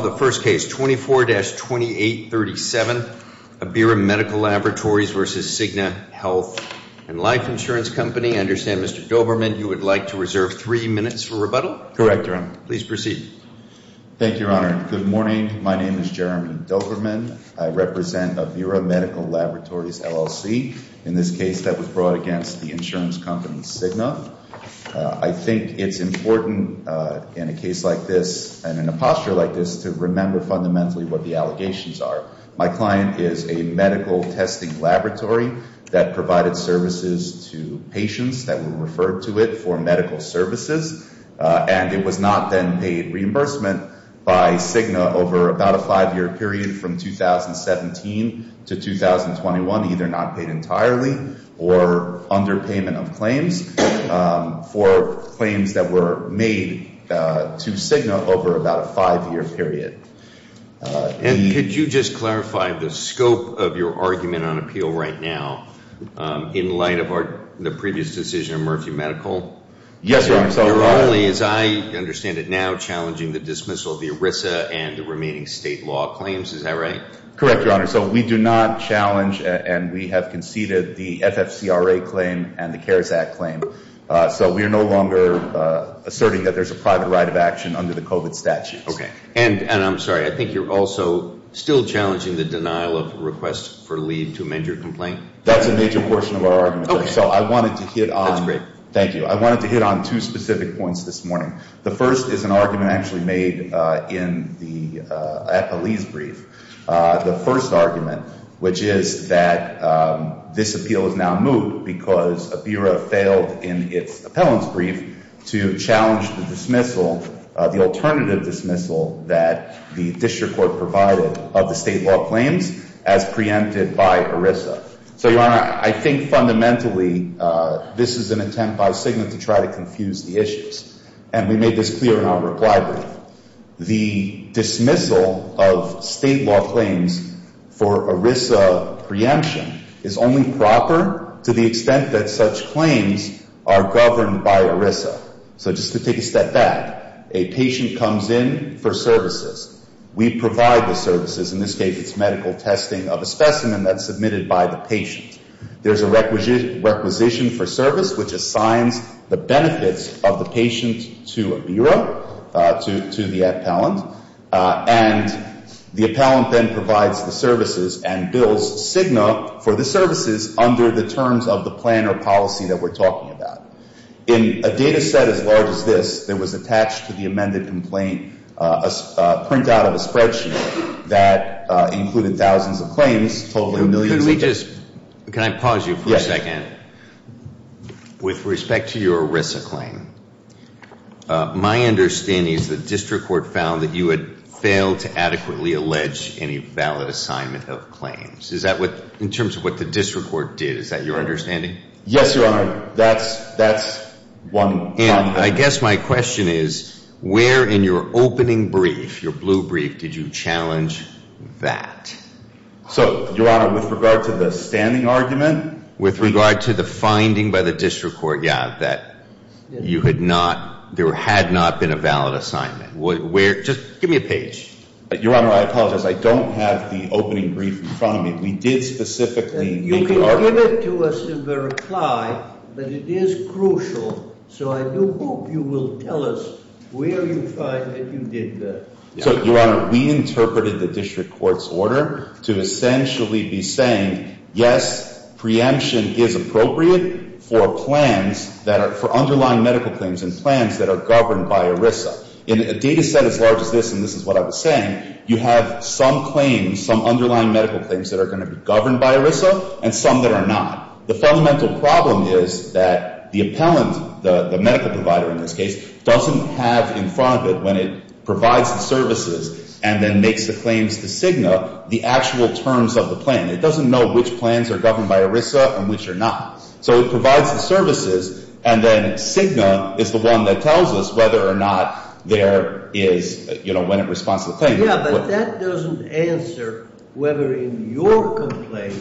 24-2837, Abira Medical Laboratories v. Cigna Health and Life Insurance Company. I understand, Mr. Doberman, you would like to reserve three minutes for rebuttal? Correct, Your Honor. Please proceed. Thank you, Your Honor. Good morning. My name is Jeremy Doberman. I represent Abira Medical Laboratories, LLC. In this case, that was brought against the insurance company Cigna. I think it's important in a case like this and in a posture like this to remember fundamentally what the allegations are. My client is a medical testing laboratory that provided services to patients that were referred to it for medical services. And it was not then paid reimbursement by Cigna over about a five-year period from 2017 to 2021, either not paid entirely or under payment of claims for claims that were made to Cigna over about a five-year period. And could you just clarify the scope of your argument on appeal right now in light of the previous decision of Murphy Medical? Yes, Your Honor. You're only, as I understand it now, challenging the dismissal of the ERISA and the remaining state law claims. Is that right? Correct, Your Honor. So we do not challenge and we have conceded the FFCRA claim and the CARES Act claim. So we are no longer asserting that there's a private right of action under the COVID statute. And I'm sorry, I think you're also still challenging the denial of requests for leave to amend your complaint. That's a major portion of our argument. So I wanted to hit on. That's great. Thank you. I wanted to hit on two specific points this morning. The first is an argument actually made in the police brief. The first argument, which is that this appeal is now moot because a bureau failed in its appellant's brief to challenge the dismissal, the alternative dismissal that the district court provided of the state law claims as preempted by ERISA. So, Your Honor, I think fundamentally this is an attempt by Cigna to try to confuse the issues. And we made this clear in our reply brief. The dismissal of state law claims for ERISA preemption is only proper to the extent that such claims are governed by ERISA. So just to take a step back, a patient comes in for services. We provide the services. In this case, it's medical testing of a specimen that's submitted by the patient. There's a requisition for service, which assigns the benefits of the patient to a bureau, to the appellant. And the appellant then provides the services and bills Cigna for the services under the terms of the plan or policy that we're talking about. In a data set as large as this that was attached to the amended complaint, a printout of a spreadsheet that included thousands of claims, Can I pause you for a second? With respect to your ERISA claim, my understanding is the district court found that you had failed to adequately allege any valid assignment of claims. Is that what, in terms of what the district court did, is that your understanding? Yes, Your Honor. That's one. And I guess my question is, where in your opening brief, your blue brief, did you challenge that? So, Your Honor, with regard to the standing argument? With regard to the finding by the district court, yeah, that you had not, there had not been a valid assignment. Where, just give me a page. Your Honor, I apologize. I don't have the opening brief in front of me. We did specifically make an argument. You can give it to us in the reply, but it is crucial, so I do hope you will tell us where you find that you did that. So, Your Honor, we interpreted the district court's order to essentially be saying, yes, preemption is appropriate for plans that are, for underlying medical claims and plans that are governed by ERISA. In a data set as large as this, and this is what I was saying, you have some claims, some underlying medical claims that are going to be governed by ERISA, and some that are not. The fundamental problem is that the appellant, the medical provider in this case, doesn't have in front of it, when it provides the services and then makes the claims to CIGNA, the actual terms of the plan. It doesn't know which plans are governed by ERISA and which are not. So, it provides the services, and then CIGNA is the one that tells us whether or not there is, you know, when it responds to the claim. Yeah, but that doesn't answer whether in your complaint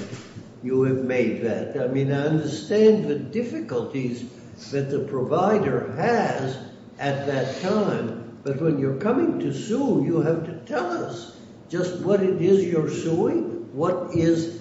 you have made that. I mean, I understand the difficulties that the provider has at that time, but when you're coming to sue, you have to tell us just what it is you're suing, what is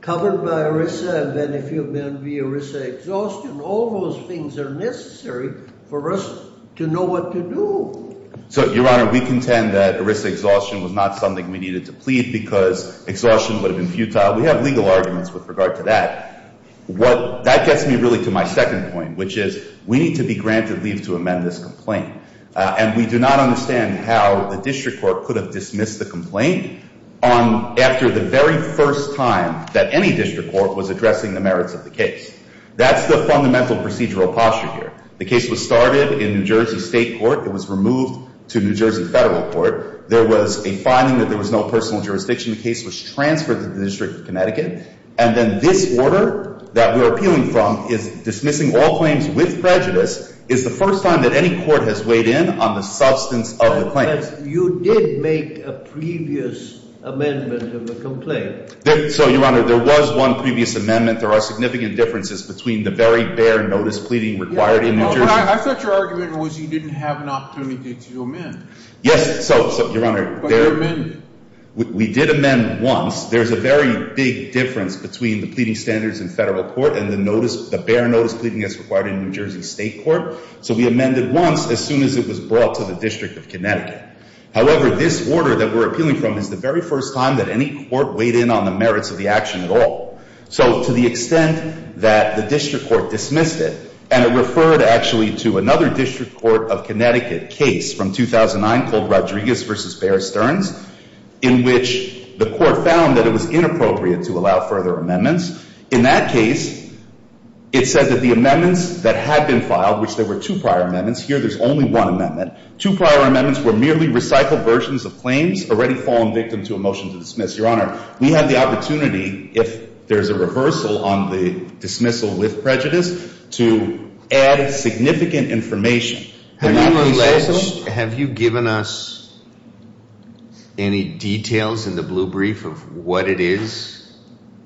covered by ERISA, and then if you've been via ERISA exhaustion. All those things are necessary for us to know what to do. So, Your Honor, we contend that ERISA exhaustion was not something we needed to plead because exhaustion would have been futile. We have legal arguments with regard to that. That gets me really to my second point, which is we need to be granted leave to amend this complaint. And we do not understand how the district court could have dismissed the complaint after the very first time that any district court was addressing the merits of the case. That's the fundamental procedural posture here. The case was started in New Jersey State Court. It was removed to New Jersey Federal Court. There was a finding that there was no personal jurisdiction. The case was transferred to the District of Connecticut. And then this order that we're appealing from is dismissing all claims with prejudice is the first time that any court has weighed in on the substance of the claim. But you did make a previous amendment of the complaint. So, Your Honor, there was one previous amendment. There are significant differences between the very bare notice pleading required in New Jersey. I thought your argument was you didn't have an opportunity to amend. Yes. So, Your Honor. But you amended. We did amend once. There's a very big difference between the pleading standards in Federal Court and the bare notice pleading as required in New Jersey State Court. So we amended once as soon as it was brought to the District of Connecticut. However, this order that we're appealing from is the very first time that any court weighed in on the merits of the action at all. So to the extent that the district court dismissed it, and it referred actually to another district court of Connecticut case from 2009 called Rodriguez v. Bear Stearns, in which the court found that it was inappropriate to allow further amendments. In that case, it said that the amendments that had been filed, which there were two prior amendments. Here there's only one amendment. Two prior amendments were merely recycled versions of claims already fallen victim to a motion to dismiss. Your Honor, we have the opportunity, if there's a reversal on the dismissal with prejudice, to add significant information. Have you given us any details in the blue brief of what it is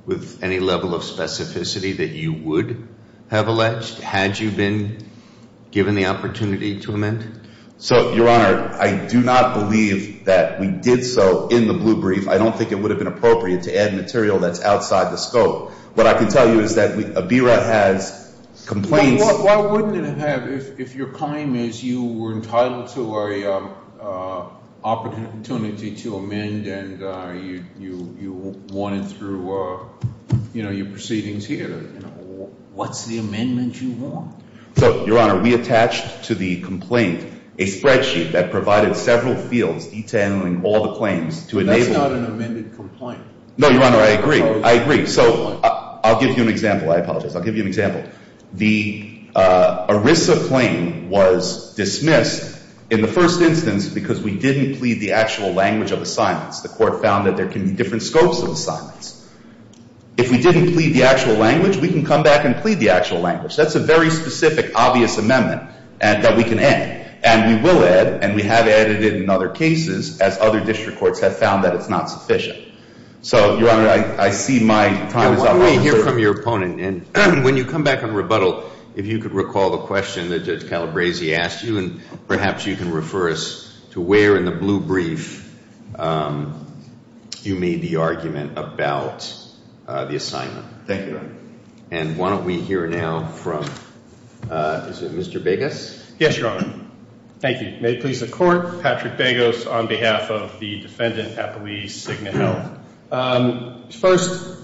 with any level of specificity that you would have alleged had you been given the opportunity to amend? So, Your Honor, I do not believe that we did so in the blue brief. I don't think it would have been appropriate to add material that's outside the scope. What I can tell you is that ABERA has complaints. Why wouldn't it have if your claim is you were entitled to an opportunity to amend and you wanted through your proceedings here? What's the amendment you want? So, Your Honor, we attached to the complaint a spreadsheet that provided several fields detailing all the claims to enable- That's not an amended complaint. No, Your Honor, I agree. I agree. So I'll give you an example. I apologize. I'll give you an example. The ERISA claim was dismissed in the first instance because we didn't plead the actual language of assignments. The court found that there can be different scopes of assignments. If we didn't plead the actual language, we can come back and plead the actual language. That's a very specific, obvious amendment that we can add. And we will add, and we have added it in other cases as other district courts have found that it's not sufficient. So, Your Honor, I see my time is up. Why don't we hear from your opponent? And when you come back on rebuttal, if you could recall the question that Judge Calabresi asked you, and perhaps you can refer us to where in the blue brief you made the argument about the assignment. Thank you, Your Honor. And why don't we hear now from, is it Mr. Biggis? Yes, Your Honor. Thank you. May it please the Court. Patrick Biggis on behalf of the defendant, Apolise, Cigna Health. First,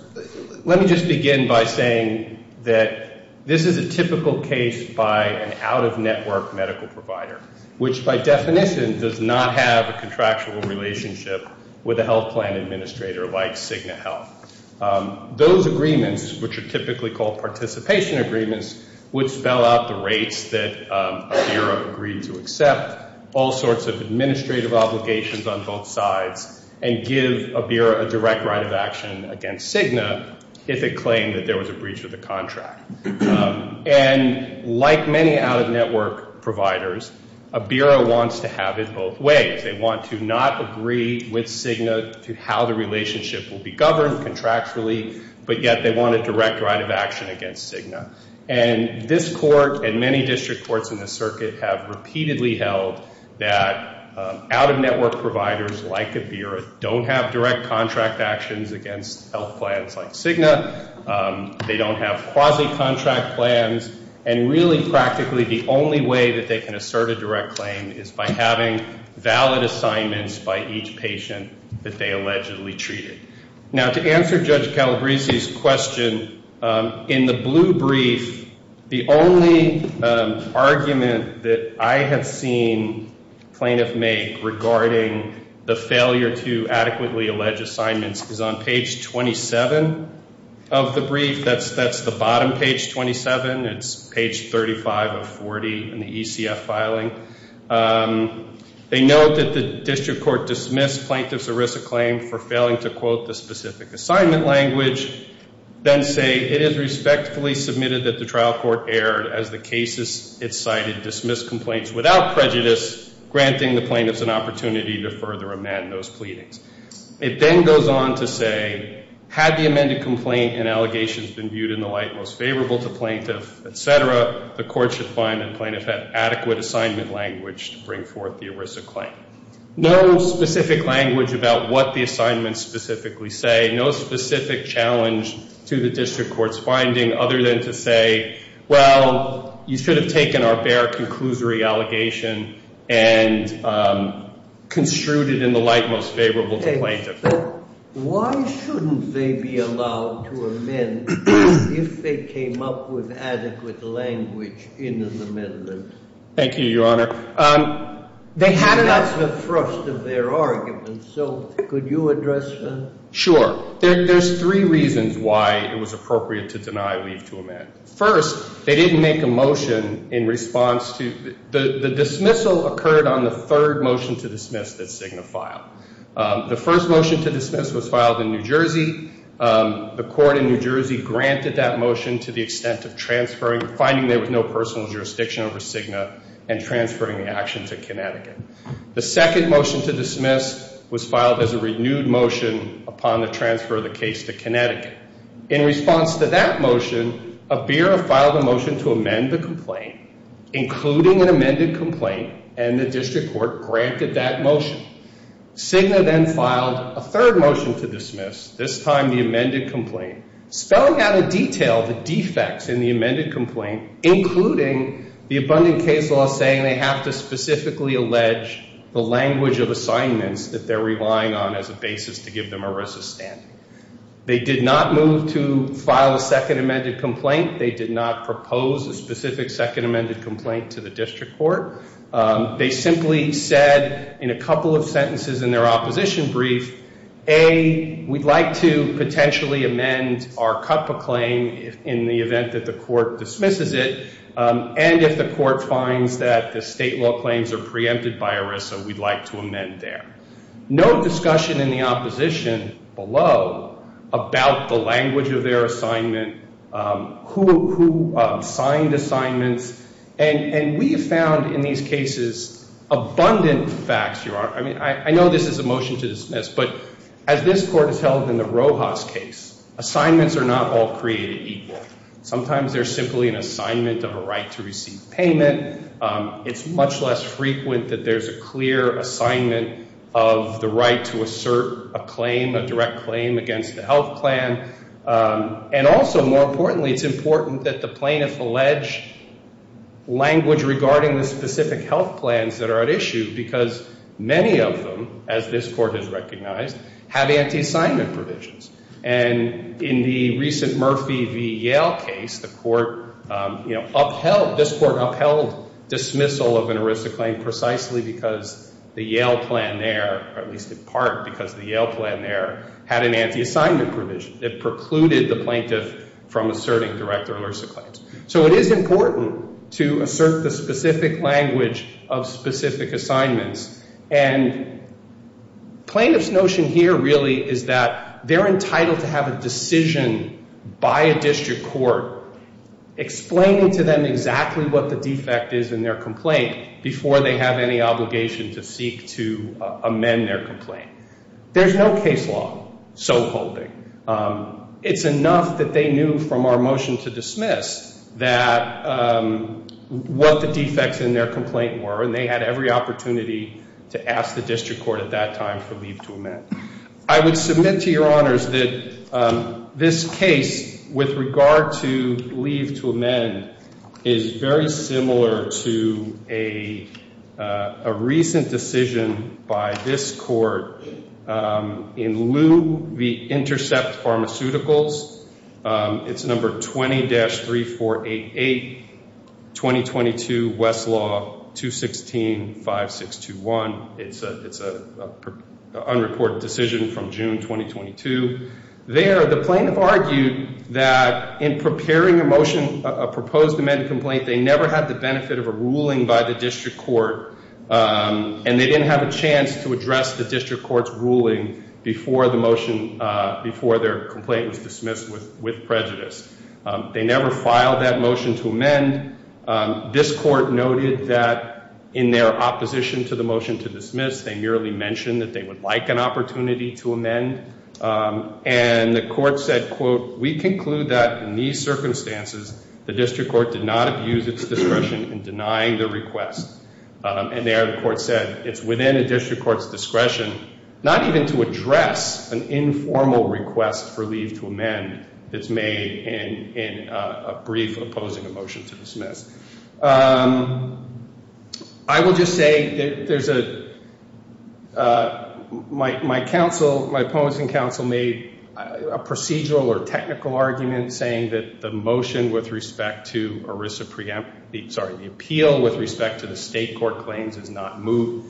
let me just begin by saying that this is a typical case by an out-of-network medical provider, which by definition does not have a contractual relationship with a health plan administrator like Cigna Health. Those agreements, which are typically called participation agreements, would spell out the rates that a bureau agreed to accept, all sorts of administrative obligations on both sides, and give a bureau a direct right of action against Cigna if it claimed that there was a breach of the contract. And like many out-of-network providers, a bureau wants to have it both ways. They want to not agree with Cigna to how the relationship will be governed contractually, but yet they want a direct right of action against Cigna. And this Court and many district courts in the circuit have repeatedly held that out-of-network providers like a bureau don't have direct contract actions against health plans like Cigna. They don't have quasi-contract plans. And really, practically, the only way that they can assert a direct claim is by having valid assignments by each patient that they allegedly treated. Now, to answer Judge Calabresi's question, in the blue brief, the only argument that I have seen plaintiffs make regarding the failure to adequately allege assignments is on page 27 of the brief. That's the bottom page, 27. It's page 35 of 40 in the ECF filing. They note that the district court dismissed plaintiff's ERISA claim for failing to quote the specific assignment language, then say, it is respectfully submitted that the trial court erred as the cases it cited dismissed complaints without prejudice, granting the plaintiffs an opportunity to further amend those pleadings. It then goes on to say, had the amended complaint and allegations been viewed in the light most favorable to plaintiff, etc., the court should find that plaintiff had adequate assignment language to bring forth the ERISA claim. No specific language about what the assignments specifically say. No specific challenge to the district court's finding other than to say, well, you should have taken our bare conclusory allegation and construed it in the light most favorable to plaintiff. But why shouldn't they be allowed to amend if they came up with adequate language in the amendments? Thank you, Your Honor. That's the thrust of their argument. So could you address that? Sure. There's three reasons why it was appropriate to deny leave to amend. First, they didn't make a motion in response to the dismissal occurred on the third motion to dismiss that Cigna filed. The first motion to dismiss was filed in New Jersey. The court in New Jersey granted that motion to the extent of transferring, finding there was no personal jurisdiction over Cigna and transferring the action to Connecticut. The second motion to dismiss was filed as a renewed motion upon the transfer of the case to Connecticut. In response to that motion, a bureau filed a motion to amend the complaint, including an amended complaint, and the district court granted that motion. Cigna then filed a third motion to dismiss, this time the amended complaint, spelling out in detail the defects in the amended complaint, including the abundant case law saying they have to specifically allege the language of assignments that they're relying on as a basis to give them a resistance. They did not move to file a second amended complaint. They did not propose a specific second amended complaint to the district court. They simply said in a couple of sentences in their opposition brief, A, we'd like to potentially amend our CUPA claim in the event that the court dismisses it, and if the court finds that the state law claims are preempted by ERISA, we'd like to amend there. No discussion in the opposition below about the language of their assignment, who signed assignments, and we found in these cases abundant facts. I mean, I know this is a motion to dismiss, but as this court has held in the Rojas case, assignments are not all created equal. Sometimes they're simply an assignment of a right to receive payment. It's much less frequent that there's a clear assignment of the right to assert a claim, a direct claim against the health plan. And also, more importantly, it's important that the plaintiff allege language regarding the specific health plans that are at issue because many of them, as this court has recognized, have anti-assignment provisions. And in the recent Murphy v. Yale case, this court upheld dismissal of an ERISA claim precisely because the Yale plan there, or at least in part because the Yale plan there, had an anti-assignment provision. It precluded the plaintiff from asserting direct or ERISA claims. So it is important to assert the specific language of specific assignments, and plaintiff's notion here really is that they're entitled to have a decision by a district court explaining to them exactly what the defect is in their complaint before they have any obligation to seek to amend their complaint. There's no case law so holding. It's enough that they knew from our motion to dismiss that what the defects in their complaint were, and they had every opportunity to ask the district court at that time for leave to amend. I would submit to your honors that this case, with regard to leave to amend, is very similar to a recent decision by this court in lieu v. Intercept Pharmaceuticals. It's number 20-3488, 2022 Westlaw 216-5621. It's an unreported decision from June 2022. There, the plaintiff argued that in preparing a motion, a proposed amended complaint, they never had the benefit of a ruling by the district court, and they didn't have a chance to address the district court's ruling before their complaint was dismissed with prejudice. They never filed that motion to amend. This court noted that in their opposition to the motion to dismiss, they merely mentioned that they would like an opportunity to amend, and the court said, quote, And there, the court said, it's within a district court's discretion not even to address an informal request for leave to amend that's made in a brief opposing a motion to dismiss. I will just say that there's a—my opposing counsel made a procedural or technical argument saying that the motion with respect to ERISA preempt—sorry, the appeal with respect to the state court claims is not moot.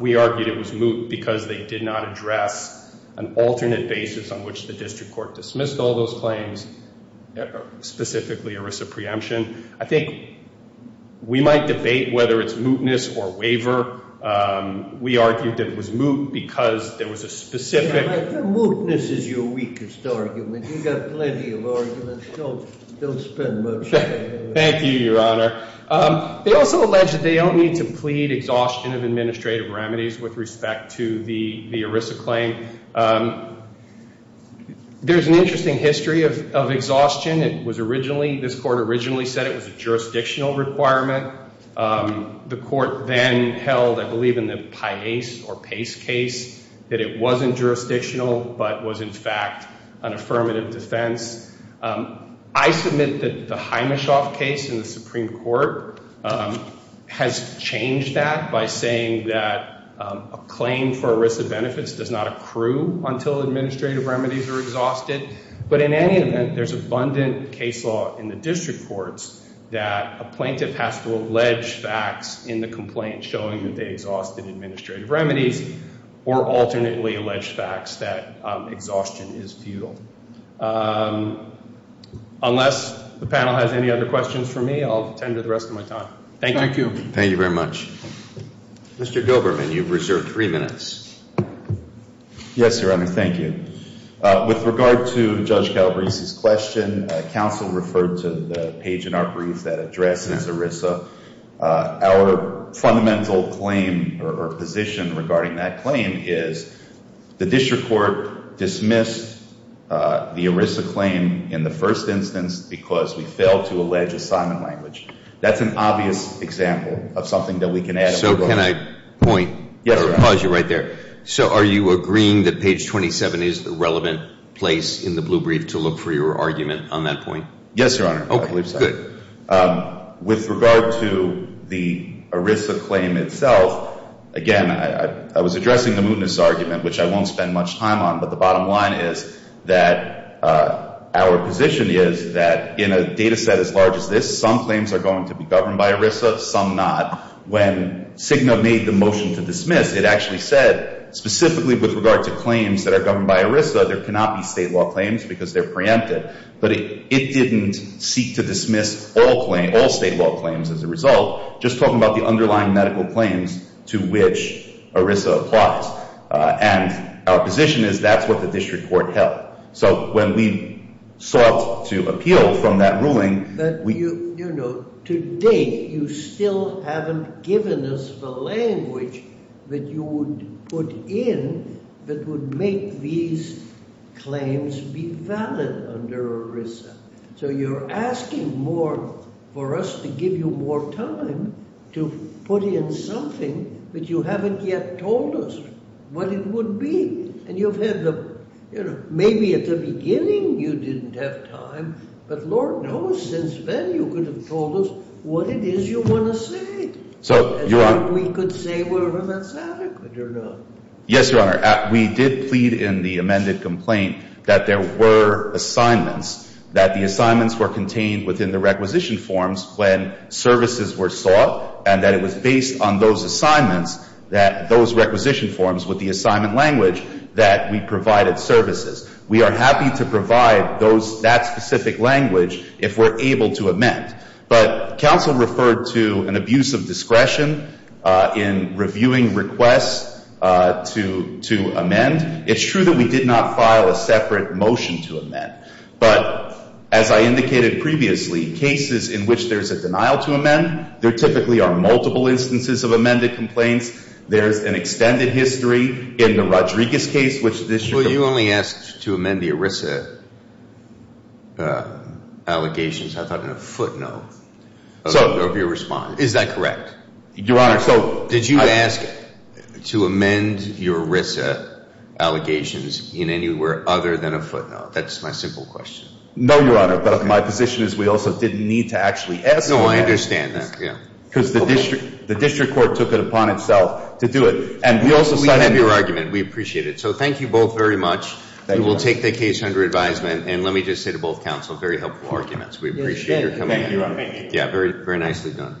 We argued it was moot because they did not address an alternate basis on which the district court dismissed all those claims, specifically ERISA preemption. I think we might debate whether it's mootness or waiver. We argued it was moot because there was a specific— The mootness is your weakest argument. You've got plenty of arguments. Don't spend much time on it. Thank you, Your Honor. They also allege that they don't need to plead exhaustion of administrative remedies with respect to the ERISA claim. There's an interesting history of exhaustion. It was originally—this court originally said it was a jurisdictional requirement. The court then held, I believe in the Pace case, that it wasn't jurisdictional but was in fact an affirmative defense. I submit that the Himeshoff case in the Supreme Court has changed that by saying that a claim for ERISA benefits does not accrue until administrative remedies are exhausted. But in any event, there's abundant case law in the district courts that a plaintiff has to allege facts in the complaint showing that they exhausted administrative remedies or alternately allege facts that exhaustion is futile. Unless the panel has any other questions for me, I'll tender the rest of my time. Thank you. Thank you very much. Mr. Goberman, you've reserved three minutes. Yes, Your Honor. Thank you. With regard to Judge Calabrese's question, counsel referred to the page in our brief that addresses ERISA. Our fundamental claim or position regarding that claim is the district court dismissed the ERISA claim in the first instance because we failed to allege assignment language. That's an obvious example of something that we can add. So can I point— Yes, Your Honor. I'll pause you right there. So are you agreeing that page 27 is the relevant place in the blue brief to look for your argument on that point? Yes, Your Honor. Okay, good. With regard to the ERISA claim itself, again, I was addressing the mootness argument, which I won't spend much time on, but the bottom line is that our position is that in a data set as large as this, some claims are going to be governed by ERISA, some not. When CIGNA made the motion to dismiss, it actually said specifically with regard to claims that are governed by ERISA, there cannot be state law claims because they're preempted. But it didn't seek to dismiss all state law claims as a result, just talking about the underlying medical claims to which ERISA applies. And our position is that's what the district court held. So when we sought to appeal from that ruling— To date, you still haven't given us the language that you would put in that would make these claims be valid under ERISA. So you're asking more for us to give you more time to put in something that you haven't yet told us what it would be. And you've had the, you know, maybe at the beginning you didn't have time, but Lord knows since then you could have told us what it is you want to say. So, Your Honor— And we could say whether that's adequate or not. Yes, Your Honor. We did plead in the amended complaint that there were assignments, that the assignments were contained within the requisition forms when services were sought, and that it was based on those assignments, those requisition forms with the assignment language that we provided services. We are happy to provide that specific language if we're able to amend. But counsel referred to an abuse of discretion in reviewing requests to amend. It's true that we did not file a separate motion to amend. But as I indicated previously, cases in which there's a denial to amend, there typically are multiple instances of amended complaints. There's an extended history in the Rodriguez case which this— Well, you only asked to amend the ERISA allegations, I thought, in a footnote of your response. Is that correct? Your Honor, so— Did you ask to amend your ERISA allegations in anywhere other than a footnote? That's my simple question. No, Your Honor. But my position is we also didn't need to actually ask for that. No, I understand that, yeah. Because the district court took it upon itself to do it. And we also cited— We have your argument. We appreciate it. So thank you both very much. Thank you, Your Honor. We will take the case under advisement. And let me just say to both counsel, very helpful arguments. We appreciate your coming in. Thank you, Your Honor. Thank you. Yeah, very nicely done.